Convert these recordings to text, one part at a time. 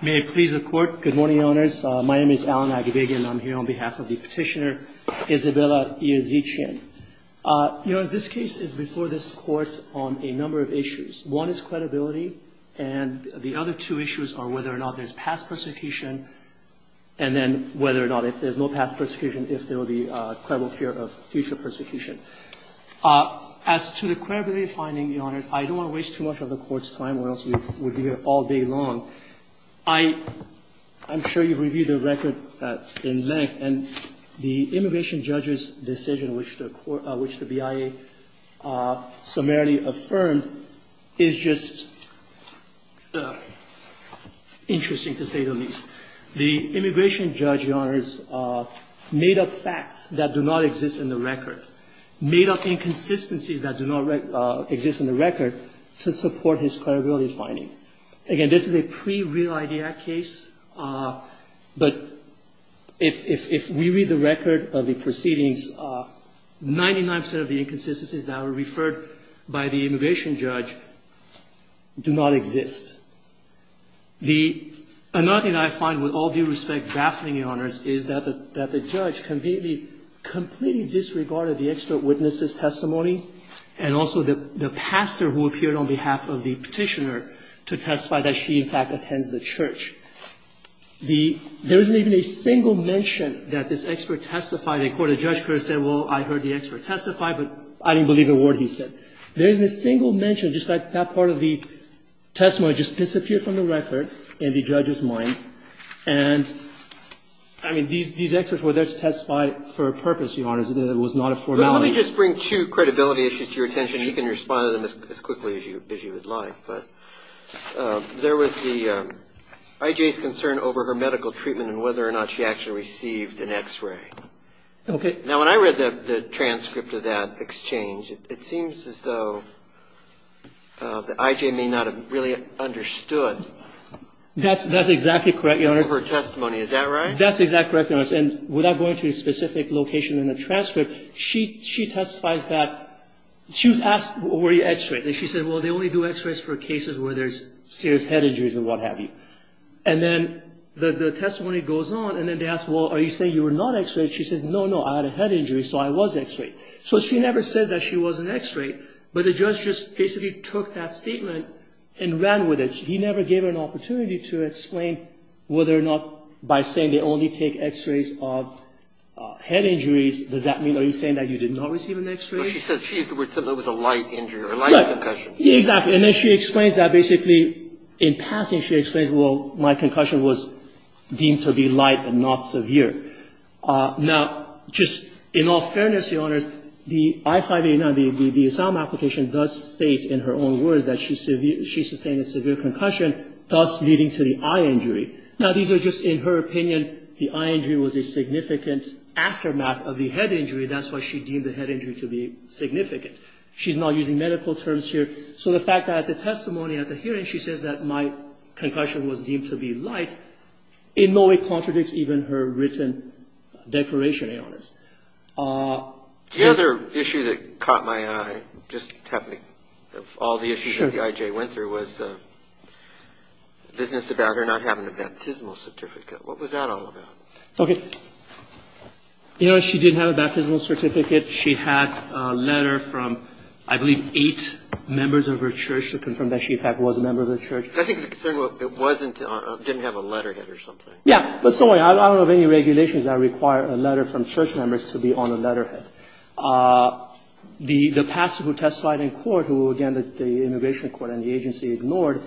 May it please the Court. Good morning, Your Honors. My name is Alan Agbige and I'm here on behalf of the Petitioner, Isabella Iazichyan. You know, as this case is before this Court on a number of issues. One is credibility and the other two issues are whether or not there's past persecution and then whether or not if there's no past persecution, if there will be a credible fear of future persecution. As to the credibility finding, Your Honors, I don't want to waste too much of the Court's time or else we would be here all day long. I'm sure you've reviewed the record in length and the immigration judge's decision which the BIA summarily affirmed is just interesting to say the least. The immigration judge, Your Honors, made up facts that do not exist in the record, made up inconsistencies that do not exist in the record to support his credibility finding. Again, this is a pre-real-idea case, but if we read the record of the proceedings, 99 percent of the inconsistencies that were referred by the immigration judge do not exist. The another thing I find with all due respect, baffling, Your Honors, is that the judge completely, completely disregarded the expert witness' testimony and also the pastor who appeared on behalf of the Petitioner to testify that she, in fact, attends the church. There isn't even a single mention that this expert testified in court. The judge could have said, well, I heard the expert testify, but I didn't believe a word he said. There isn't a single mention, just like that part of the testimony just disappeared from the record in the judge's mind. And, I mean, these experts were there to testify for a purpose, Your Honors. It was not a formality. Let me just bring two credibility issues to your attention. You can respond to them as quickly as you would like, but there was the IJ's concern over her medical treatment and whether or not she actually received an X-ray. Okay. Now, when I read the transcript of that exchange, it seems as though the IJ may not have really understood. That's exactly correct, Your Honors. Over her testimony. Is that right? That's exactly correct, Your Honors. And without going to a specific location in the transcript, she testifies that she was asked, were you X-rayed? And she said, well, they only do X-rays for cases where there's serious head injuries and what have you. And then the testimony goes on, and then they ask, well, are you saying you were not X-rayed? She says, no, no, I had a head injury, so I was X-rayed. So she never says that she was an X-ray, but the judge just basically took that statement and ran with it. He never gave her an opportunity to explain whether or not by saying they only take X-rays of head injuries, does that mean, are you saying that you did not receive an X-ray? No, she said she used the word simple. It was a light injury or light concussion. Exactly. And then she explains that basically in passing she explains, well, my concussion was deemed to be light and not severe. Now, just in all fairness, Your Honors, the I-589, the asylum application does state in her own words that she sustained a severe concussion, thus leading to the eye injury. Now, these are just, in her opinion, the eye injury was a significant aftermath of the head injury. That's why she deemed the head injury to be significant. She's not using medical terms here. So the fact that the testimony at the hearing, she says that my concussion was deemed to be light, in no way contradicts even her written declaration, Your Honors. The other issue that caught my eye, just happening, of all the issues that the IJ went through was the business about her not having a baptismal certificate. What was that all about? Okay. You know, she did have a baptismal certificate. She had a letter from, I believe, eight members of her church to confirm that she, in fact, was a member of the church. I think the concern was it wasn't, didn't have a letterhead or something. Yeah. But so I don't know of any regulations that require a letter from church members to be on a letterhead. The pastor who testified in court, who, again, the immigration court and the agency ignored,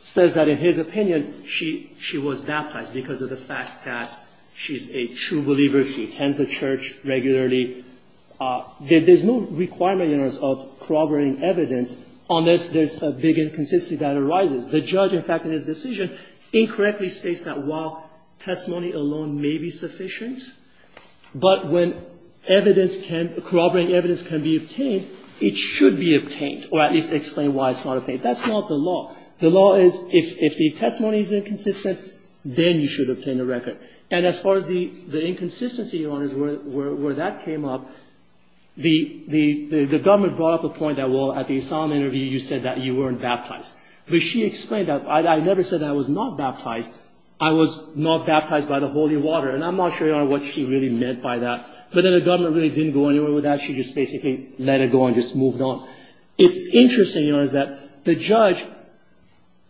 says that in his opinion, she was baptized because of the fact that she's a true believer. She attends the church regularly. There's no requirement, Your Honors, of corroborating evidence unless there's a big inconsistency that arises. The judge, in fact, in his decision incorrectly states that while testimony alone may be sufficient, but when evidence can, corroborating evidence can be obtained, it should be obtained, or at least explain why it's not obtained. That's not the law. The law is if the testimony is inconsistent, then you should obtain a record. And as far as the inconsistency, Your Honors, where that came up, the government brought up a point that, well, at the asylum interview, you said that you weren't baptized. But she explained that, I never said I was not baptized. I was not baptized by the holy water, and I'm not sure, Your Honor, what she really meant by that. But then the government really didn't go anywhere with that. She just basically let it go and just moved on. It's interesting, Your Honors, that the judge,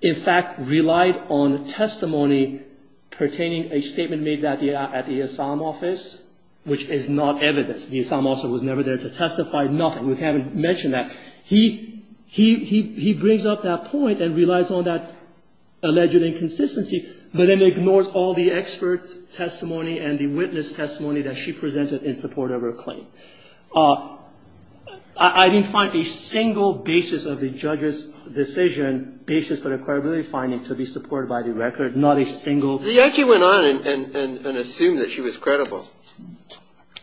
in fact, relied on testimony pertaining, a statement made at the asylum office, which is not evidence. The asylum officer was never there to testify, nothing. We haven't mentioned that. He brings up that point and relies on that alleged inconsistency, but then ignores all the expert testimony and the witness testimony that she presented in support of her claim. I didn't find a single basis of the judge's decision, basis for the credibility finding, to be supported by the record, not a single. He actually went on and assumed that she was credible.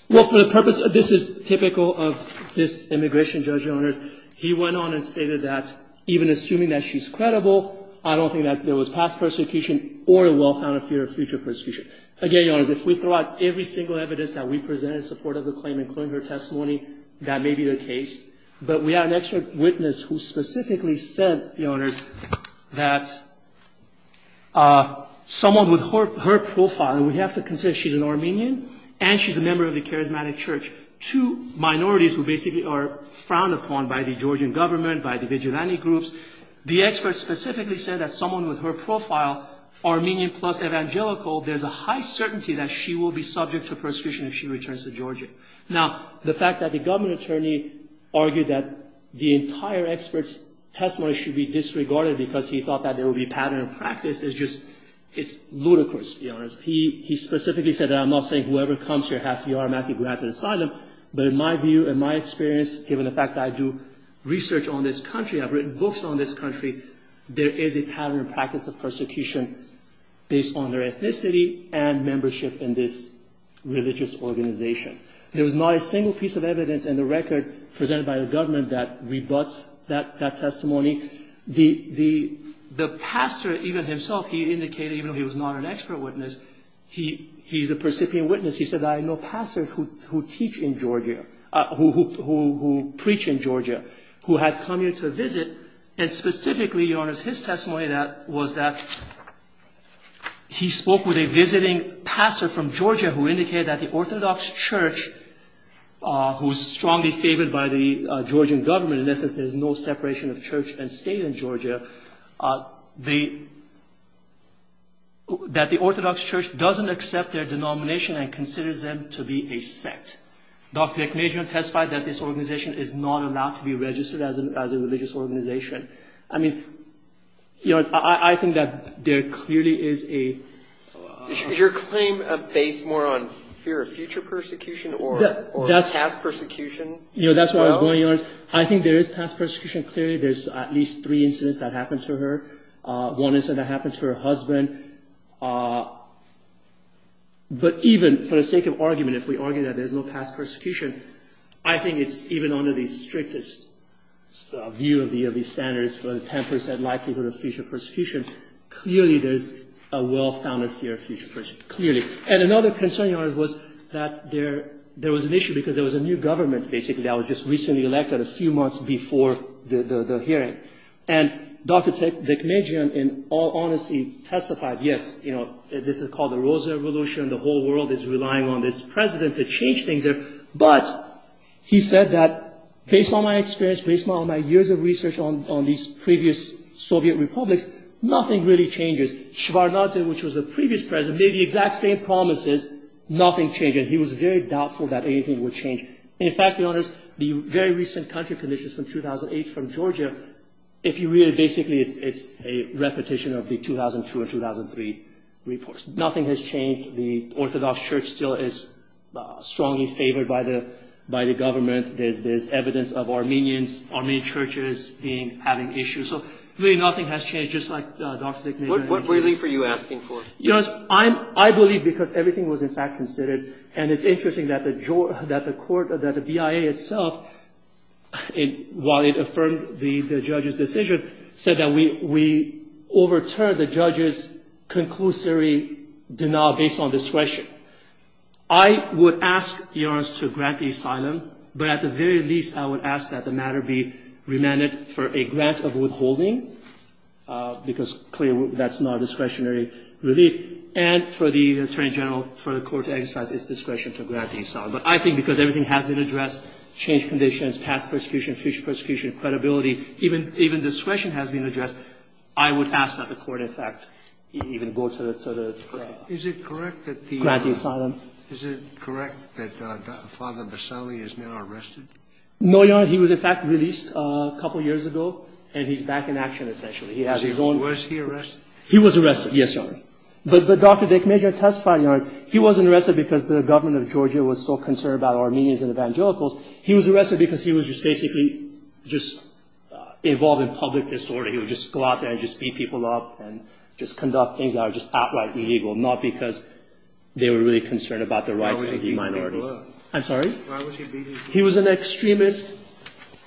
Well, for the purpose, this is typical of this immigration judge, Your Honors. He went on and stated that even assuming that she's credible, I don't think that there was past persecution or a well-founded fear of future persecution. Again, Your Honors, if we throw out every single evidence that we presented in support of the claim, including her testimony, that may be the case. But we have an expert witness who specifically said, Your Honors, that someone with her profile, and we have to consider she's an Armenian and she's a member of the Charismatic Church, two minorities who basically are frowned upon by the Georgian government, by the vigilante groups. The expert specifically said that someone with her profile, Armenian plus evangelical, there's a high certainty that she will be subject to persecution if she returns to Georgia. Now, the fact that the government attorney argued that the entire expert's testimony should be disregarded because he thought that there would be pattern in practice is just, it's ludicrous, Your Honors. He specifically said that I'm not saying whoever comes here has to be automatically granted asylum, but in my view, in my experience, given the fact that I do research on this country, I've written books on this country, there is a pattern in practice of persecution based on their ethnicity and membership in this religious organization. There was not a single piece of evidence in the record presented by the government that rebuts that testimony. The pastor even himself, he indicated, even though he was not an expert witness, he's a percipient witness. He said, I know pastors who teach in Georgia, who preach in Georgia, who have come here to visit. And specifically, Your Honors, his testimony was that he spoke with a visiting pastor from Georgia who indicated that the Orthodox Church, who is strongly favored by the Georgian government, in essence, there is no separation of church and state in Georgia, that the Orthodox Church doesn't accept their denomination and considers them to be a sect. Dr. Deknejian testified that this organization is not allowed to be registered as a religious organization. I mean, I think that there clearly is a... Is your claim based more on fear of future persecution or past persecution? You know, that's where I was going, Your Honors. I think there is past persecution. Clearly, there's at least three incidents that happened to her. One incident that happened to her husband. But even for the sake of argument, if we argue that there's no past persecution, I think it's even under the strictest view of these standards for the 10% likelihood of future persecution. Clearly, there's a well-founded fear of future persecution. Clearly. And another concern, Your Honors, was that there was an issue because there was a new government, basically, that was just recently elected a few months before the hearing. And Dr. Deknejian, in all honesty, testified, yes, this is called the Rosa Revolution, the whole world is relying on this president to change things. But he said that, based on my experience, based on my years of research on these previous Soviet republics, nothing really changes. Shabar Nazem, which was the previous president, made the exact same promises. Nothing changed. And he was very doubtful that anything would change. In fact, Your Honors, the very recent country conditions from 2008 from Georgia, if you read it, basically, it's a repetition of the 2002 or 2003 reports. Nothing has changed. The Orthodox Church still is strongly favored by the government. There's evidence of Armenians, Armenian churches having issues. So really nothing has changed, just like Dr. Deknejian. What relief are you asking for? I believe because everything was, in fact, considered. And it's interesting that the BIA itself, while it affirmed the judge's decision, said that we overturned the judge's conclusory denial based on discretion. I would ask, Your Honors, to grant the asylum. But at the very least, I would ask that the matter be remanded for a grant of withholding, because, clearly, that's not a discretionary relief. And for the attorney general, for the court to exercise its discretion to grant the asylum. But I think because everything has been addressed, changed conditions, past persecution, future persecution, credibility, even discretion has been addressed, I would ask that the court, in fact, even go to the court of law. Is it correct that the— Grant the asylum. Is it correct that Father Bassali is now arrested? No, Your Honor. He was, in fact, released a couple years ago, and he's back in action, essentially. He has his own— Was he arrested? He was arrested, yes, Your Honor. But Dr. Deknejian testified, Your Honors, he wasn't arrested because the government of Georgia was so concerned about Armenians and evangelicals. He was arrested because he was just basically just involved in public disorder. He would just go out there and just beat people up and just conduct things that are just outright illegal, not because they were really concerned about the rights of the minorities. Why would he beat people up? I'm sorry? Why would he beat people up? He was an extremist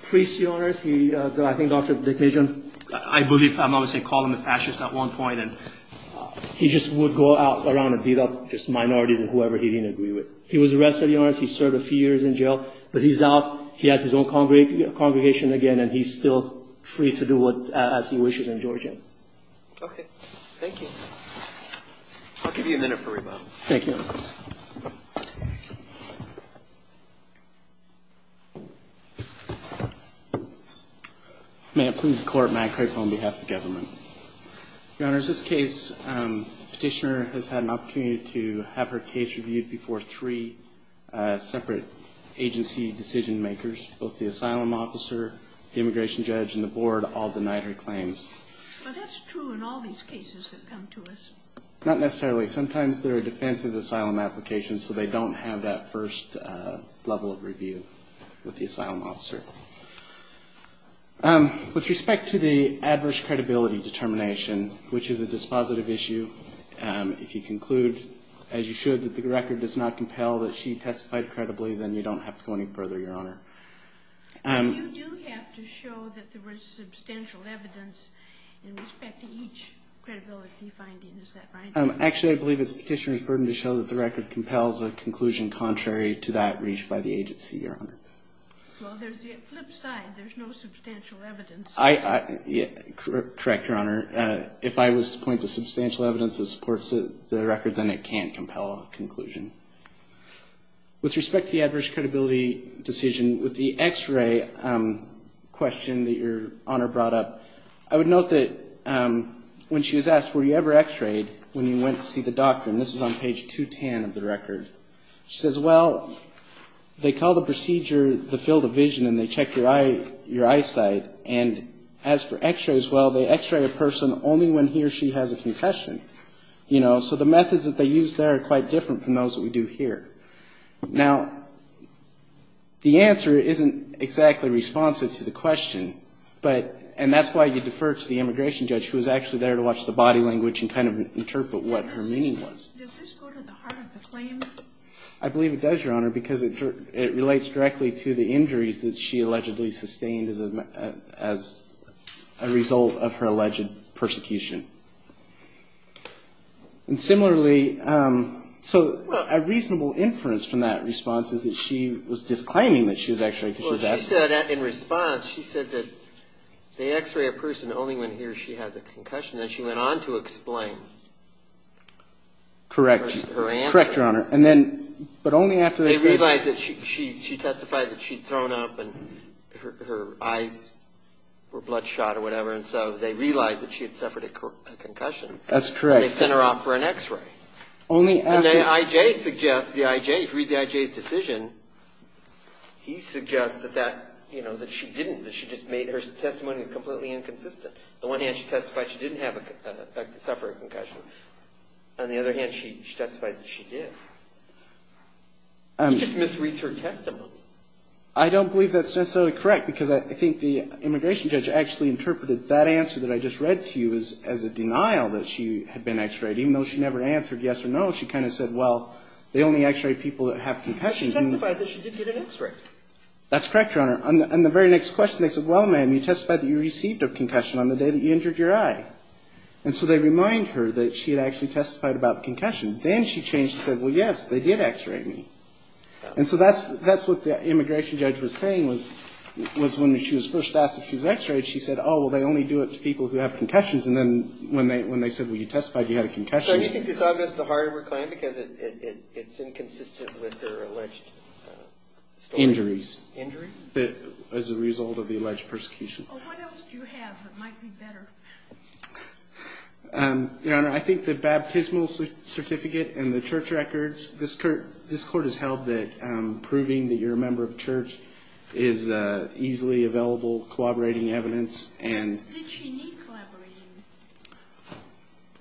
priest, Your Honors. I think Dr. Deknejian— I believe I'm obviously calling him a fascist at one point. He just would go out around and beat up just minorities and whoever he didn't agree with. He was arrested, Your Honors. He served a few years in jail. But he's out. He has his own congregation again, and he's still free to do as he wishes in Georgia. Okay. Thank you. I'll give you a minute for rebuttal. Thank you. May it please the Court, Matt Craig on behalf of the government. Your Honors, this case, the petitioner has had an opportunity to have her case reviewed before three separate agency decision makers, both the asylum officer, the immigration judge, and the board all denied her claims. Well, that's true in all these cases that come to us. Not necessarily. Sometimes there are defensive asylum applications, so they don't have that first level of review with the asylum officer. With respect to the adverse credibility determination, which is a dispositive issue, if you conclude, as you should, that the record does not compel that she testified credibly, then you don't have to go any further, Your Honor. You do have to show that there was substantial evidence in respect to each credibility finding. Is that right? Actually, I believe it's the petitioner's burden to show that the record compels a conclusion contrary to that reached by the agency, Your Honor. Well, there's the flip side. There's no substantial evidence. Correct, Your Honor. If I was to point to substantial evidence that supports the record, then it can't compel a conclusion. With respect to the adverse credibility decision, with the x-ray question that Your Honor brought up, I would note that when she was asked, were you ever x-rayed when you went to see the doctor? And this is on page 210 of the record. She says, well, they call the procedure the field of vision, and they check your eyesight. And as for x-rays, well, they x-ray a person only when he or she has a concussion. So the methods that they use there are quite different from those that we do here. Now, the answer isn't exactly responsive to the question, and that's why you defer to the immigration judge, who was actually there to watch the body language and kind of interpret what her meaning was. Does this go to the heart of the claim? I believe it does, Your Honor, because it relates directly to the injuries that she allegedly sustained as a result of her alleged persecution. And similarly, so a reasonable inference from that response is that she was disclaiming that she was x-rayed because she was asked. Well, she said in response, she said that they x-ray a person only when he or she has a concussion. Then she went on to explain. Correct. Her answer. Correct, Your Honor. And then, but only after they said that. They realized that she testified that she'd thrown up and her eyes were bloodshot or whatever, and so they realized that she had suffered a concussion. That's correct. And they sent her off for an x-ray. Only after. And the I.J. suggests, the I.J., if you read the I.J.'s decision, he suggests that that, you know, that she didn't, that she just made, her testimony was completely inconsistent. On the one hand, she testified she didn't have a, suffer a concussion. On the other hand, she testifies that she did. He just misreads her testimony. I don't believe that's necessarily correct, because I think the immigration judge actually interpreted that answer that I just read to you as a denial that she had been x-rayed, even though she never answered yes or no. She kind of said, well, they only x-ray people that have concussions. She testified that she did get an x-ray. That's correct, Your Honor. On the very next question, they said, well, ma'am, you testified that you received a concussion on the day that you injured your eye. And so they remind her that she had actually testified about concussion. Then she changed and said, well, yes, they did x-ray me. And so that's what the immigration judge was saying, was when she was first asked if she was x-rayed, she said, oh, well, they only do it to people who have concussions. And then when they said, well, you testified you had a concussion. So do you think it's obvious the harder we're claiming because it's inconsistent with her alleged story? Injuries. Injuries? As a result of the alleged persecution. Oh, what else do you have that might be better? Your Honor, I think the baptismal certificate and the church records. This court has held that proving that you're a member of church is easily available, collaborating evidence. And did she need collaborating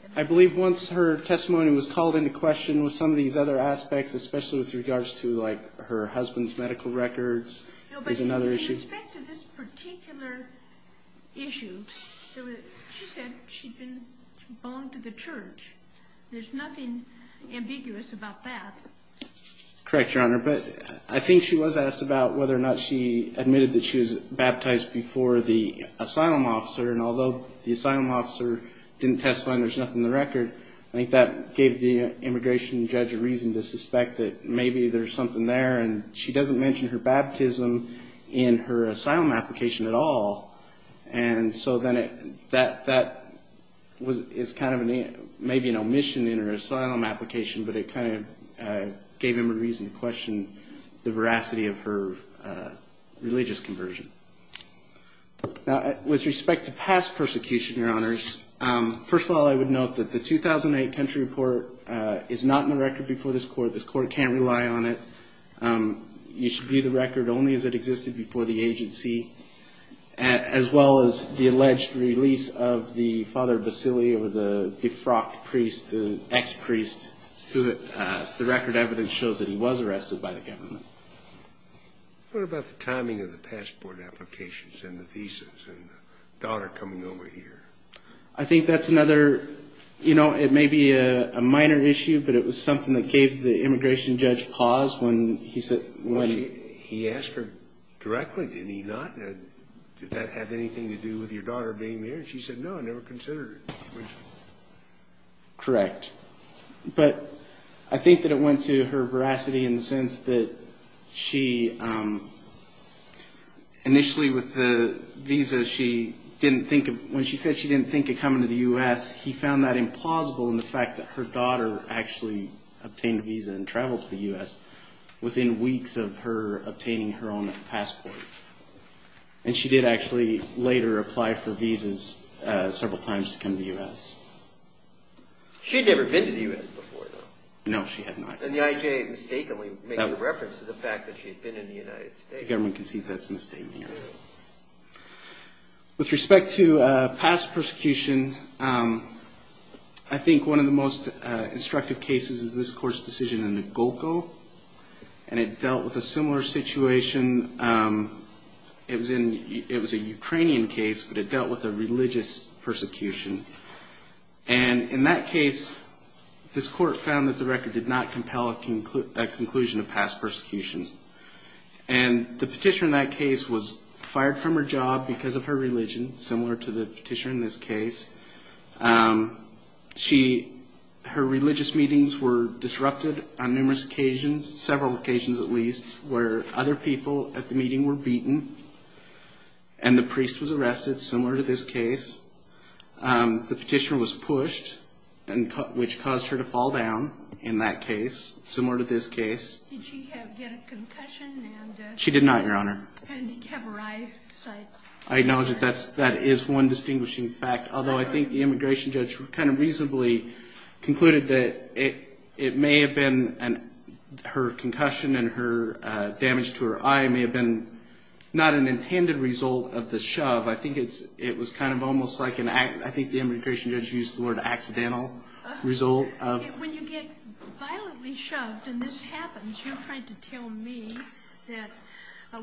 evidence? I believe once her testimony was called into question with some of these other aspects, especially with regards to, like, her husband's medical records is another issue. No, but in respect to this particular issue, she said she belonged to the church. There's nothing ambiguous about that. Correct, Your Honor. But I think she was asked about whether or not she admitted that she was baptized before the asylum officer. And although the asylum officer didn't testify and there's nothing in the record, I think that gave the immigration judge a reason to suspect that maybe there's something there. And she doesn't mention her baptism in her asylum application at all. And so then that is kind of maybe an omission in her asylum application, but it kind of gave him a reason to question the veracity of her religious conversion. Now, with respect to past persecution, Your Honors, first of all, I would note that the 2008 country report is not in the record before this court. This court can't rely on it. You should view the record only as it existed before the agency, as well as the alleged release of the Father Basilio, the defrocked priest, the ex-priest, who the record evidence shows that he was arrested by the government. What about the timing of the passport applications and the visas and the daughter coming over here? I think that's another, you know, it may be a minor issue, but it was something that gave the immigration judge pause when he said – He asked her directly, did he not? Did that have anything to do with your daughter being there? And she said, no, I never considered it. Correct. But I think that it went to her veracity in the sense that she initially with the visa, she didn't think – when she said she didn't think of coming to the U.S., he found that implausible in the fact that her daughter actually obtained a visa and traveled to the U.S. within weeks of her obtaining her own passport. And she did actually later apply for visas several times to come to the U.S. She had never been to the U.S. before, though. No, she had not. And the IJA mistakenly made the reference to the fact that she had been in the United States. The government concedes that's a misstatement. With respect to past persecution, I think one of the most instructive cases is this Court's decision in the Golko, and it dealt with a similar situation. It was a Ukrainian case, but it dealt with a religious persecution. And in that case, this Court found that the record did not compel a conclusion of past persecution. And the petitioner in that case was fired from her job because of her religion, similar to the petitioner in this case. Her religious meetings were disrupted on numerous occasions, several occasions at least, where other people at the meeting were beaten, and the priest was arrested, similar to this case. The petitioner was pushed, which caused her to fall down in that case, similar to this case. Did she get a concussion? She did not, Your Honor. And did she have her eye sight? I acknowledge that that is one distinguishing fact, although I think the immigration judge kind of reasonably concluded that it may have been her concussion and her damage to her eye may have been not an intended result of the shove. I think it was kind of almost like an accident. I think the immigration judge used the word accidental result of. When you get violently shoved and this happens, you're trying to tell me that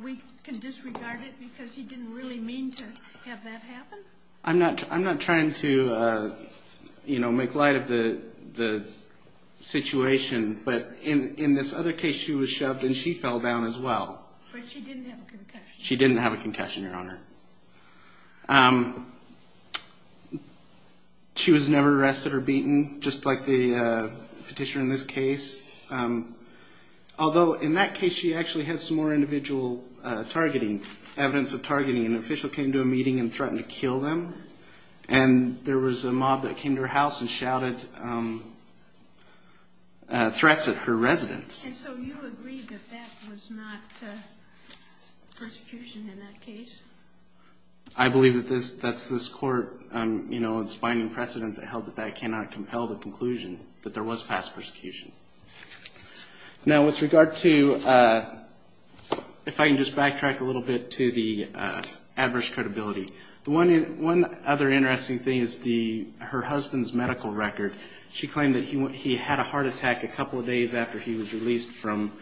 we can disregard it because you didn't really mean to have that happen? I'm not trying to, you know, make light of the situation, but in this other case she was shoved and she fell down as well. But she didn't have a concussion. She didn't have a concussion, Your Honor. She was never arrested or beaten, just like the petitioner in this case, although in that case she actually had some more individual targeting, evidence of targeting. An official came to a meeting and threatened to kill them, and there was a mob that came to her house and shouted threats at her residence. And so you agree that that was not persecution in that case? I believe that that's this Court's binding precedent that held that that cannot compel the conclusion that there was past persecution. Now with regard to, if I can just backtrack a little bit to the adverse credibility, one other interesting thing is her husband's medical record. She claimed that he had a heart attack a couple of days after he was released from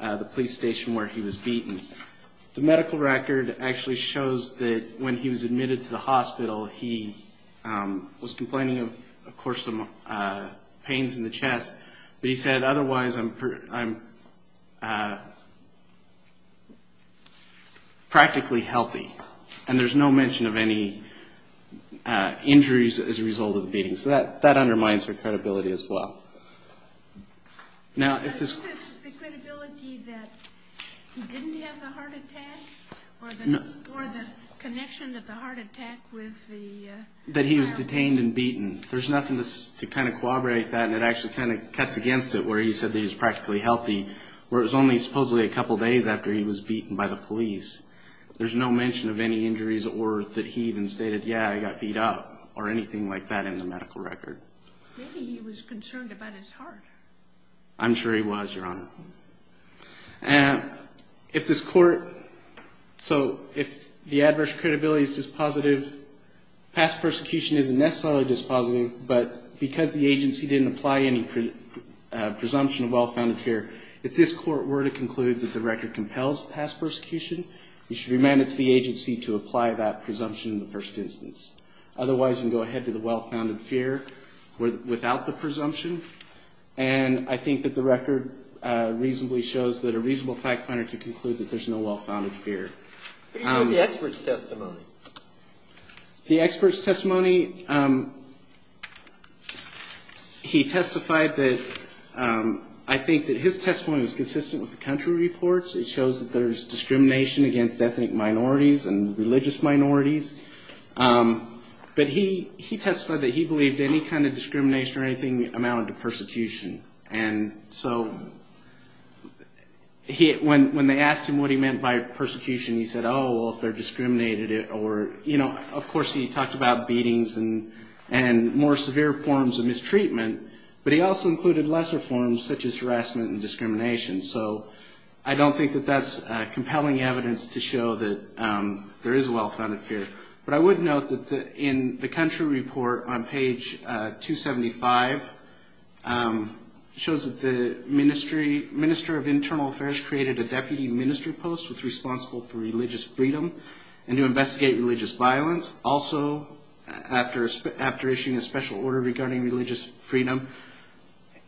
the police station where he was beaten. The medical record actually shows that when he was admitted to the hospital, he was complaining of, of course, some pains in the chest, but he said, otherwise I'm practically healthy, and there's no mention of any injuries as a result of the beating. So that undermines her credibility as well. Now if this... The credibility that he didn't have the heart attack? Or the connection of the heart attack with the... That he was detained and beaten. There's nothing to kind of corroborate that, and it actually kind of cuts against it where he said that he was practically healthy, where it was only supposedly a couple of days after he was beaten by the police. There's no mention of any injuries or that he even stated, yeah, I got beat up or anything like that in the medical record. Maybe he was concerned about his heart. I'm sure he was, Your Honor. If this court... So if the adverse credibility is dispositive, past persecution isn't necessarily dispositive, but because the agency didn't apply any presumption of well-founded fear, if this court were to conclude that the record compels past persecution, you should remand it to the agency to apply that presumption in the first instance. Otherwise, you can go ahead to the well-founded fear without the presumption, and I think that the record reasonably shows that a reasonable fact finder can conclude that there's no well-founded fear. What about the expert's testimony? The expert's testimony, he testified that... I think that his testimony was consistent with the country reports. It shows that there's discrimination against ethnic minorities and religious minorities. But he testified that he believed any kind of discrimination or anything amounted to persecution. And so when they asked him what he meant by persecution, he said, oh, well, if they're discriminated or... Of course, he talked about beatings and more severe forms of mistreatment, but he also included lesser forms such as harassment and discrimination. So I don't think that that's compelling evidence to show that there is a well-founded fear. But I would note that in the country report on page 275, it shows that the Minister of Internal Affairs created a deputy ministry post that's responsible for religious freedom and to investigate religious violence. Also, after issuing a special order regarding religious freedom,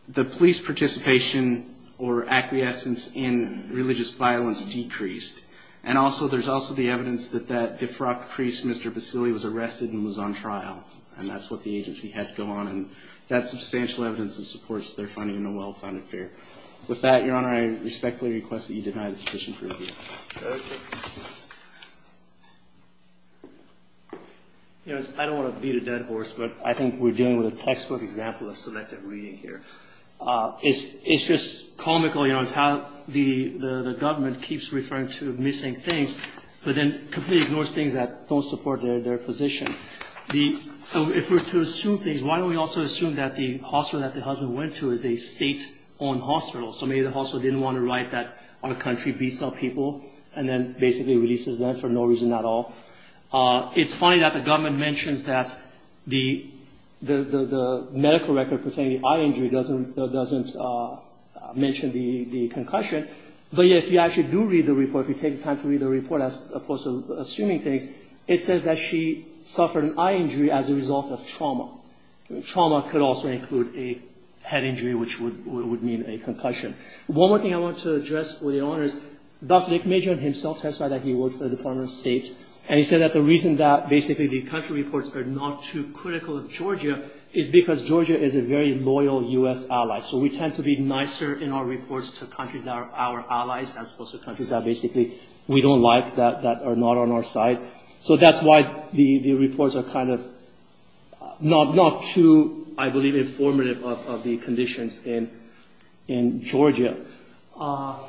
the police participation or acquiescence in religious violence decreased. And also, there's also the evidence that that Defrock priest, Mr. Vasili, was arrested and was on trial. And that's what the agency had to go on. And that's substantial evidence that supports their finding of a well-founded fear. With that, Your Honor, I respectfully request that you deny the petition for review. I don't want to beat a dead horse, but I think we're dealing with a textbook example of selective reading here. It's just comical, you know, it's how the government keeps referring to missing things, but then completely ignores things that don't support their position. If we're to assume things, why don't we also assume that the hospital that the husband went to is a state-owned hospital? So maybe the hospital didn't want to write that our country beats up people and then basically releases them for no reason at all. It's funny that the government mentions that the medical record pertaining to eye injury doesn't mention the concussion, but yet if you actually do read the report, if you take the time to read the report as opposed to assuming things, it says that she suffered an eye injury as a result of trauma. Trauma could also include a head injury, which would mean a concussion. One more thing I want to address, Your Honor, is Dr. Dick Major himself testified that he works for the Department of State, and he said that the reason that basically the country reports are not too critical of Georgia is because Georgia is a very loyal U.S. ally. So we tend to be nicer in our reports to countries that are our allies as opposed to countries that basically we don't like, that are not on our side. So that's why the reports are kind of not too, I believe, informative of the conditions in Georgia. And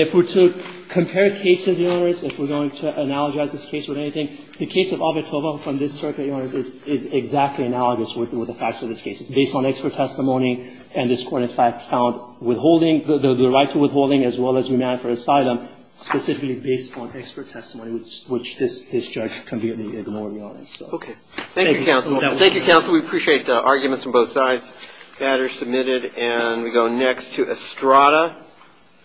if we're to compare cases, Your Honor, if we're going to analogize this case with anything, the case of Ovitova from this circuit, Your Honor, is exactly analogous with the facts of this case. It's based on expert testimony, and this court in fact found withholding, the right to withholding as well as remand for asylum specifically based on expert testimony, which this judge convened in the morning on. So thank you. Thank you, counsel. We appreciate the arguments from both sides. That is submitted. And we go next to Estrada.